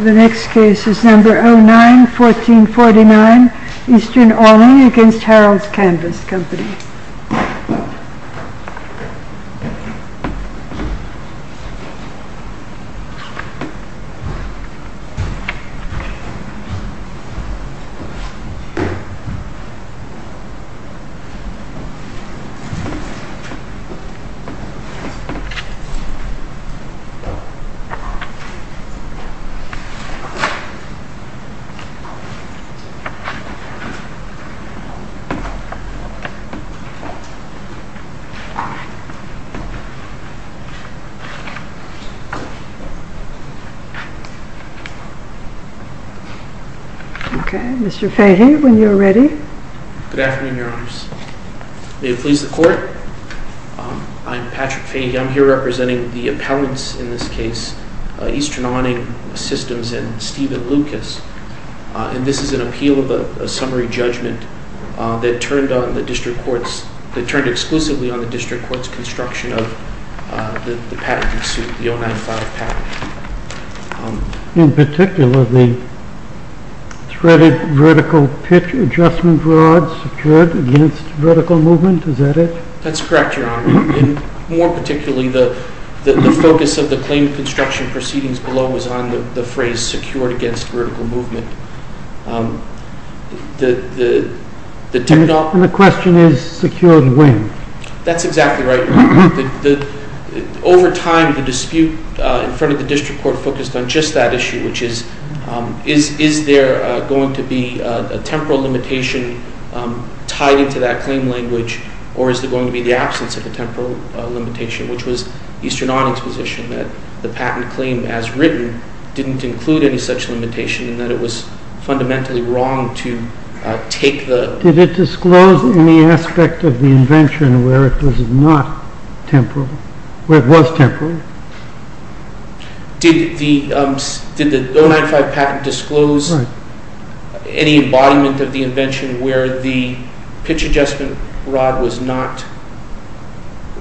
The next case is number 09-1449, Eastern Awning v. Harold's Canvas Company. This case is number 09-1449, Eastern Awning v. Harold's Canvas Company. Mr. Fahy, when you are ready. Good afternoon, Your Honors. May it please the Court? I'm Patrick Fahy. I'm here representing the appellants in this case, Eastern Awning Systems and Stephen Lucas. And this is an appeal of a summary judgment that turned exclusively on the district court's construction of the patent suit, the 095 patent. In particular, the threaded vertical pitch adjustment rod secured against vertical movement, is that it? That's correct, Your Honor. More particularly, the focus of the claim construction proceedings below was on the phrase secured against vertical movement. And the question is secured when? That's exactly right, Your Honor. Over time, the dispute in front of the district court focused on just that issue, which is, is there going to be a temporal limitation tied into that claim language, or is there going to be the absence of a temporal limitation, which was Eastern Awning's position that the patent claim as written didn't include any such limitation, and that it was fundamentally wrong to take the... Did it disclose any aspect of the invention where it was not temporal, where it was temporal? Did the 095 patent disclose any embodiment of the invention where the pitch adjustment rod was not,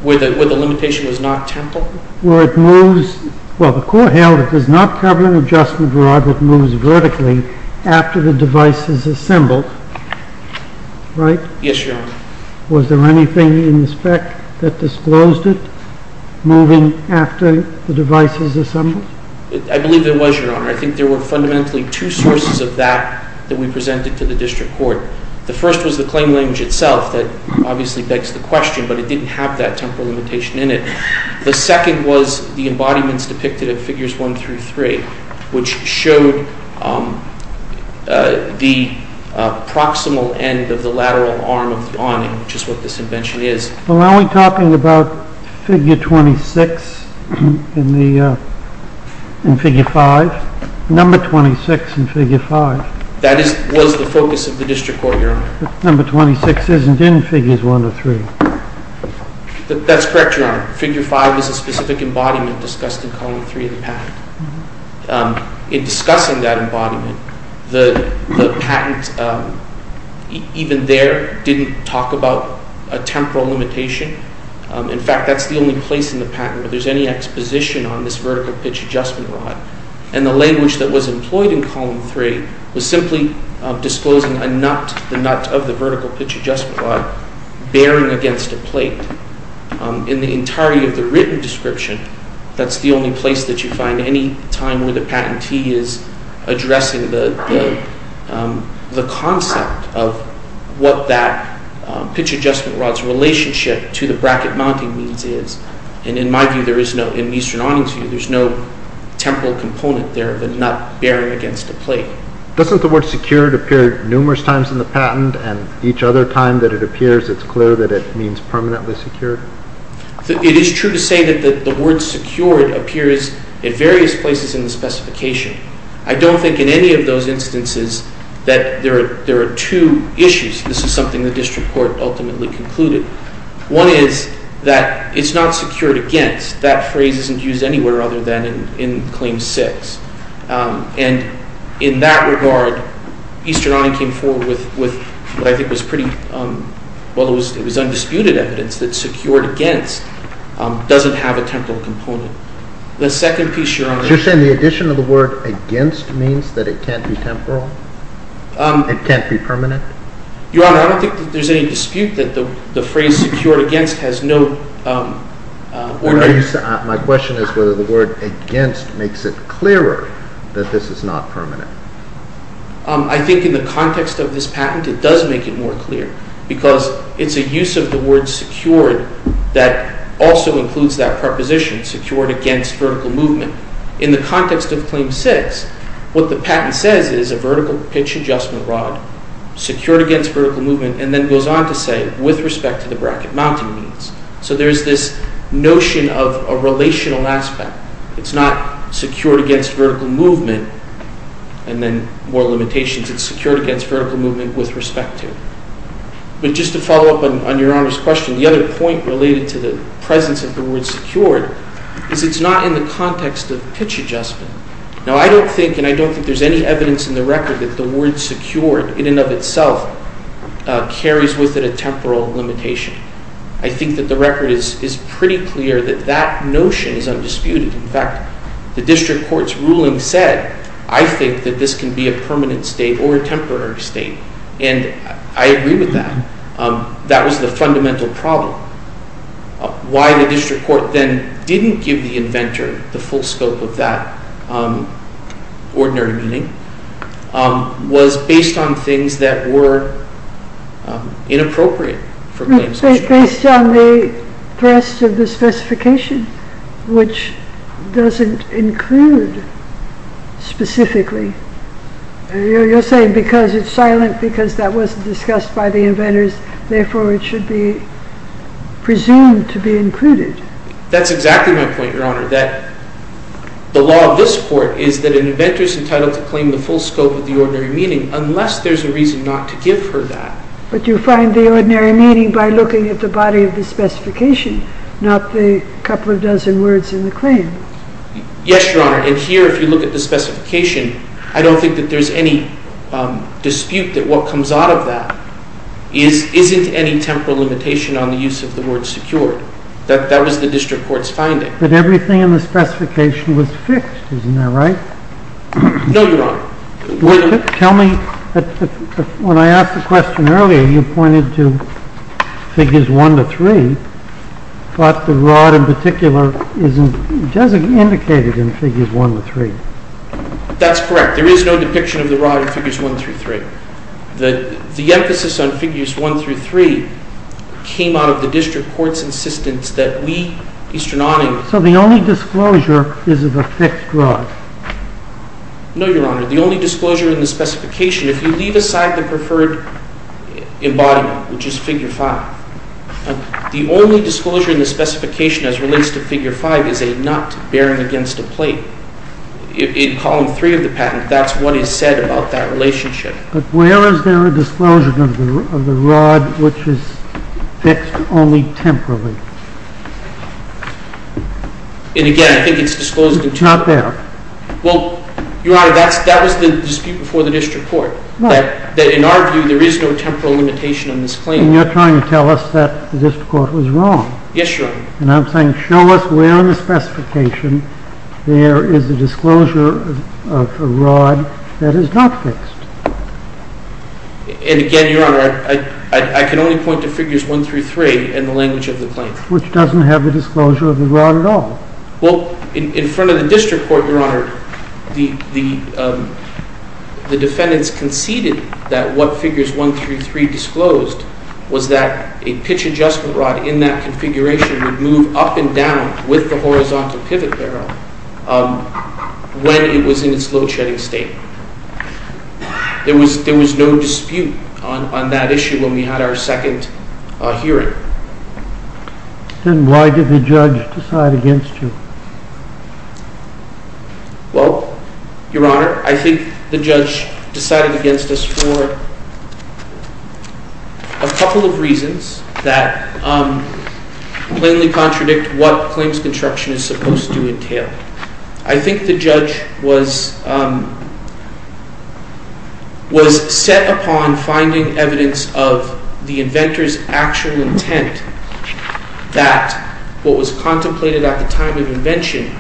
where the limitation was not temporal? Well, the court held it does not cover an adjustment rod that moves vertically after the device is assembled, right? Yes, Your Honor. Was there anything in the spec that disclosed it moving after the device is assembled? I believe there was, Your Honor. I think there were fundamentally two sources of that that we presented to the district court. The first was the claim language itself that obviously begs the question, but it didn't have that temporal limitation in it. The second was the embodiments depicted in figures 1 through 3, which showed the proximal end of the lateral arm of the awning, which is what this invention is. Well, are we talking about figure 26 in figure 5? Number 26 in figure 5? That was the focus of the district court, Your Honor. Number 26 isn't in figures 1 through 3. That's correct, Your Honor. Figure 5 is a specific embodiment discussed in column 3 of the patent. In discussing that embodiment, the patent even there didn't talk about a temporal limitation. In fact, that's the only place in the patent where there's any exposition on this vertical pitch adjustment rod. And the language that was employed in column 3 was simply disclosing a nut, the nut of the vertical pitch adjustment rod, bearing against a plate. In the entirety of the written description, that's the only place that you find any time where the patentee is addressing the concept of what that pitch adjustment rod's relationship to the bracket mounting means is. And in my view, in Eastern Awning's view, there's no temporal component there of a nut bearing against a plate. Doesn't the word secured appear numerous times in the patent, and each other time that it appears, it's clear that it means permanently secured? It is true to say that the word secured appears in various places in the specification. I don't think in any of those instances that there are two issues. This is something the district court ultimately concluded. One is that it's not secured against. That phrase isn't used anywhere other than in claim 6. And in that regard, Eastern Awning came forward with what I think was pretty, well, it was undisputed evidence that secured against doesn't have a temporal component. The second piece, Your Honor. So you're saying the addition of the word against means that it can't be temporal? It can't be permanent? Your Honor, I don't think that there's any dispute that the phrase secured against has no ordinance. My question is whether the word against makes it clearer that this is not permanent. I think in the context of this patent, it does make it more clear because it's a use of the word secured that also includes that preposition, secured against vertical movement. In the context of claim 6, what the patent says is a vertical pitch adjustment rod secured against vertical movement and then goes on to say with respect to the bracket mounting means. So there's this notion of a relational aspect. It's not secured against vertical movement and then more limitations. It's secured against vertical movement with respect to. But just to follow up on Your Honor's question, the other point related to the presence of the word secured is it's not in the context of pitch adjustment. Now, I don't think and I don't think there's any evidence in the record that the word secured in and of itself carries with it a temporal limitation. I think that the record is pretty clear that that notion is undisputed. In fact, the district court's ruling said, I think that this can be a permanent state or a temporary state. And I agree with that. That was the fundamental problem. Why the district court then didn't give the inventor the full scope of that ordinary meaning was based on things that were inappropriate. Based on the thrust of the specification, which doesn't include specifically. You're saying because it's silent, because that wasn't discussed by the inventors, therefore it should be presumed to be included. That's exactly my point, Your Honor, that the law of this court is that an inventor is entitled to claim the full scope of the ordinary meaning unless there's a reason not to give her that. But you find the ordinary meaning by looking at the body of the specification, not the couple of dozen words in the claim. Yes, Your Honor. And here, if you look at the specification, I don't think that there's any dispute that what comes out of that isn't any temporal limitation on the use of the word secured. That was the district court's finding. But everything in the specification was fixed, isn't that right? No, Your Honor. Tell me, when I asked the question earlier, you pointed to Figures 1 to 3, but the rod in particular isn't indicated in Figures 1 to 3. That's correct. There is no depiction of the rod in Figures 1 through 3. The emphasis on Figures 1 through 3 came out of the district court's insistence that we, Eastern Awning… So the only disclosure is of a fixed rod? No, Your Honor. The only disclosure in the specification, if you leave aside the preferred embodiment, which is Figure 5, the only disclosure in the specification as relates to Figure 5 is a nut bearing against a plate. In Column 3 of the patent, that's what is said about that relationship. But where is there a disclosure of the rod which is fixed only temporally? And again, I think it's disclosed in… It's not there. Well, Your Honor, that was the dispute before the district court. In our view, there is no temporal limitation on this claim. And you're trying to tell us that the district court was wrong. Yes, Your Honor. And I'm saying show us where in the specification there is a disclosure of a rod that is not fixed. And again, Your Honor, I can only point to Figures 1 through 3 in the language of the claim. Which doesn't have the disclosure of the rod at all. Well, in front of the district court, Your Honor, the defendants conceded that what Figures 1 through 3 disclosed was that a pitch adjustment rod in that configuration would move up and down with the horizontal pivot barrel when it was in its load-shedding state. There was no dispute on that issue when we had our second hearing. Then why did the judge decide against you? Well, Your Honor, I think the judge decided against us for a couple of reasons that plainly contradict what claims construction is supposed to entail. I think the judge was set upon finding evidence of the inventor's actual intent that what was contemplated at the time of invention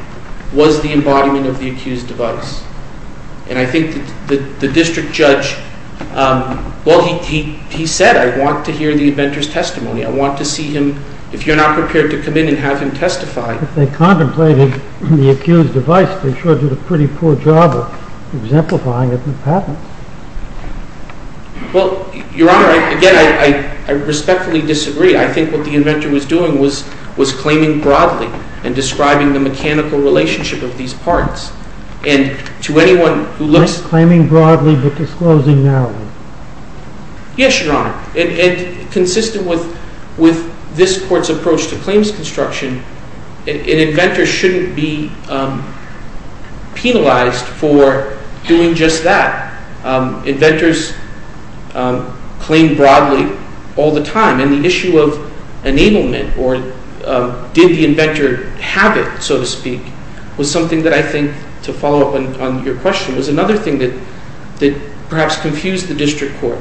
was the embodiment of the accused device. And I think the district judge, well, he said, I want to hear the inventor's testimony. I want to see him, if you're not prepared to come in and have him testify. If they contemplated the accused device, the judge did a pretty poor job of exemplifying it in the patent. Well, Your Honor, again, I respectfully disagree. I think what the inventor was doing was claiming broadly and describing the mechanical relationship of these parts. And to anyone who looks— Not claiming broadly, but disclosing narrowly. Yes, Your Honor. And consistent with this court's approach to claims construction, an inventor shouldn't be penalized for doing just that. Inventors claim broadly all the time. And the issue of enablement, or did the inventor have it, so to speak, was something that I think, to follow up on your question, was another thing that perhaps confused the district court.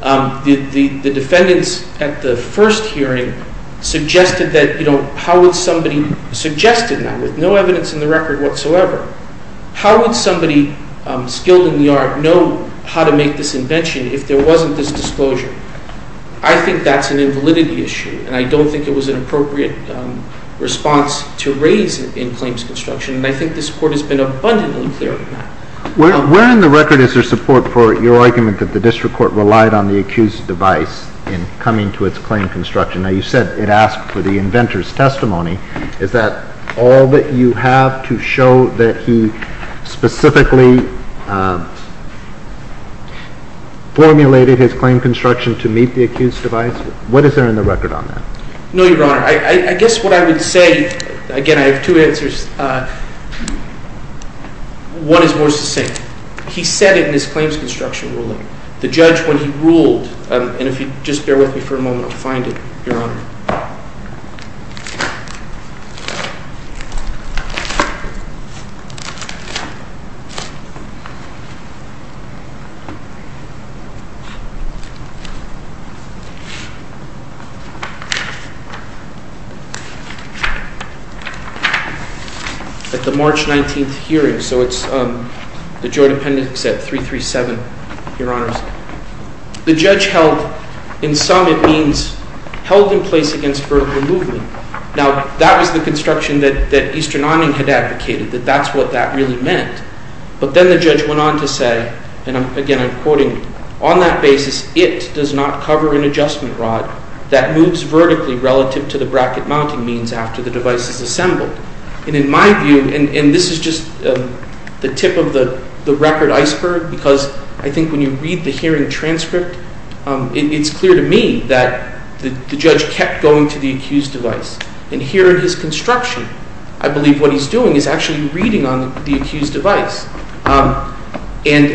The defendants at the first hearing suggested that, you know, how would somebody—suggested that with no evidence in the record whatsoever. How would somebody skilled in the art know how to make this invention if there wasn't this disclosure? I think that's an invalidity issue, and I don't think it was an appropriate response to raise it in claims construction. And I think this court has been abundantly clear on that. Where in the record is there support for your argument that the district court relied on the accused's device in coming to its claim construction? Now, you said it asked for the inventor's testimony. Is that all that you have to show that he specifically formulated his claim construction to meet the accused's device? What is there in the record on that? No, Your Honor. I guess what I would say—again, I have two answers. One is more succinct. He said it in his claims construction ruling. The judge, when he ruled—and if you'd just bear with me for a moment, I'll find it, Your Honor. At the March 19th hearing, so it's the Joint Appendix at 337, Your Honor. The judge held—in sum, it means held in place against vertical movement. Now, that was the construction that Eastern Awning had advocated, that that's what that really meant. But then the judge went on to say—and again, I'm quoting— on that basis, it does not cover an adjustment rod that moves vertically relative to the bracket mounting means after the device is assembled. And in my view—and this is just the tip of the record iceberg, because I think when you read the hearing transcript, it's clear to me that the judge kept going to the accused's device. And here in his construction, I believe what he's doing is actually reading on the accused's device. And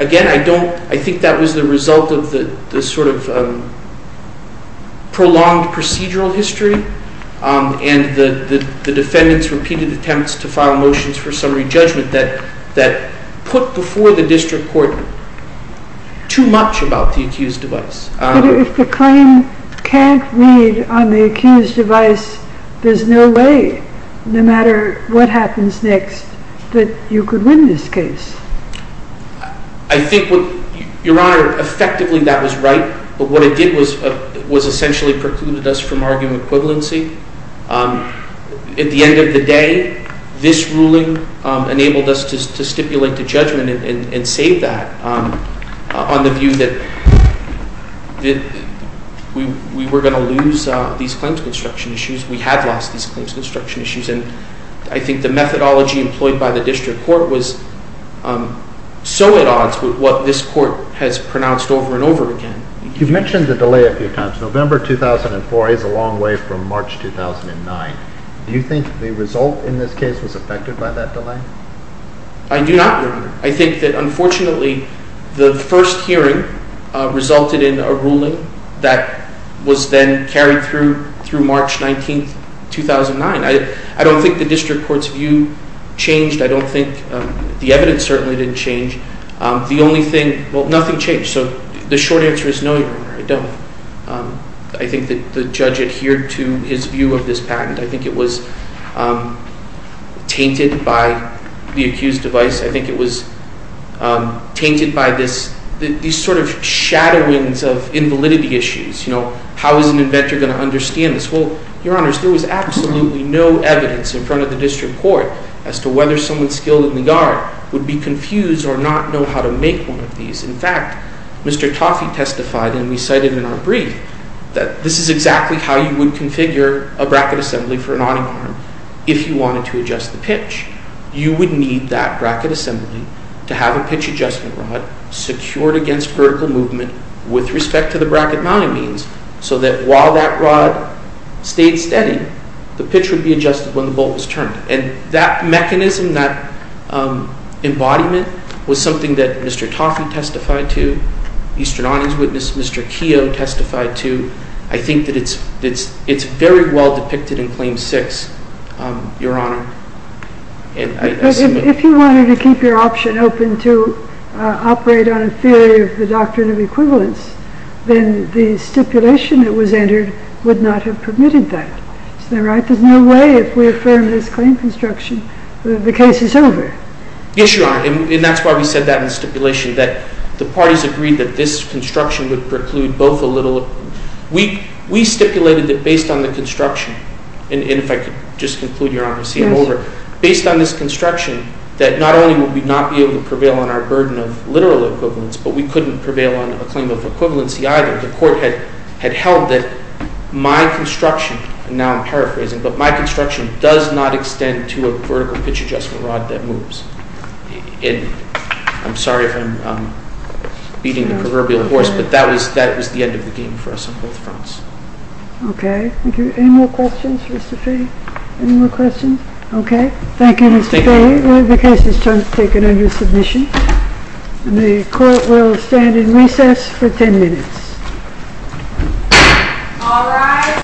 again, I don't—I think that was the result of the sort of prolonged procedural history and the defendant's repeated attempts to file motions for summary judgment that put before the district court too much about the accused's device. But if the claim can't read on the accused's device, there's no way, no matter what happens next, that you could win this case. I think what—Your Honor, effectively, that was right. But what it did was essentially precluded us from argument equivalency. At the end of the day, this ruling enabled us to stipulate the judgment and save that on the view that we were going to lose these claims construction issues. We had lost these claims construction issues. And I think the methodology employed by the district court was so at odds with what this court has pronounced over and over again. You mentioned the delay a few times. November 2004 is a long way from March 2009. Do you think the result in this case was affected by that delay? I do not, Your Honor. I think that, unfortunately, the first hearing resulted in a ruling that was then carried through March 19, 2009. I don't think the district court's view changed. I don't think—the evidence certainly didn't change. The only thing—well, nothing changed. So the short answer is no, Your Honor, I don't. I think that the judge adhered to his view of this patent. I think it was tainted by the accused's device. I think it was tainted by this—these sort of shadowings of invalidity issues. You know, how is an inventor going to understand this? Well, Your Honors, there was absolutely no evidence in front of the district court as to whether someone skilled in the yard would be confused or not know how to make one of these. In fact, Mr. Toffee testified, and we cited in our brief, that this is exactly how you would configure a bracket assembly for an awning arm if you wanted to adjust the pitch. You would need that bracket assembly to have a pitch adjustment rod secured against vertical movement with respect to the bracket mounting means, so that while that rod stayed steady, the pitch would be adjusted when the bolt was turned. And that mechanism, that embodiment, was something that Mr. Toffee testified to, Eastern Awning's witness, Mr. Keogh testified to. I think that it's very well depicted in Claim 6, Your Honor. But if you wanted to keep your option open to operate on a theory of the doctrine of equivalence, then the stipulation that was entered would not have permitted that. Isn't that right? There's no way, if we affirm this claim construction, that the case is over. Yes, Your Honor. And that's why we said that in the stipulation, that the parties agreed that this construction would preclude both a little. We stipulated that based on the construction, and if I could just conclude, Your Honor, and see if I'm over. Based on this construction, that not only would we not be able to prevail on our burden of literal equivalence, but we couldn't prevail on a claim of equivalency either. The court had held that my construction, and now I'm paraphrasing, but my construction does not extend to a vertical pitch adjustment rod that moves. And I'm sorry if I'm beating the proverbial horse, but that was the end of the game for us on both fronts. Okay, thank you. Any more questions for Mr. Fahy? Any more questions? Okay. Thank you, Mr. Fahy. The case is taken under submission. The court will stand in recess for 10 minutes.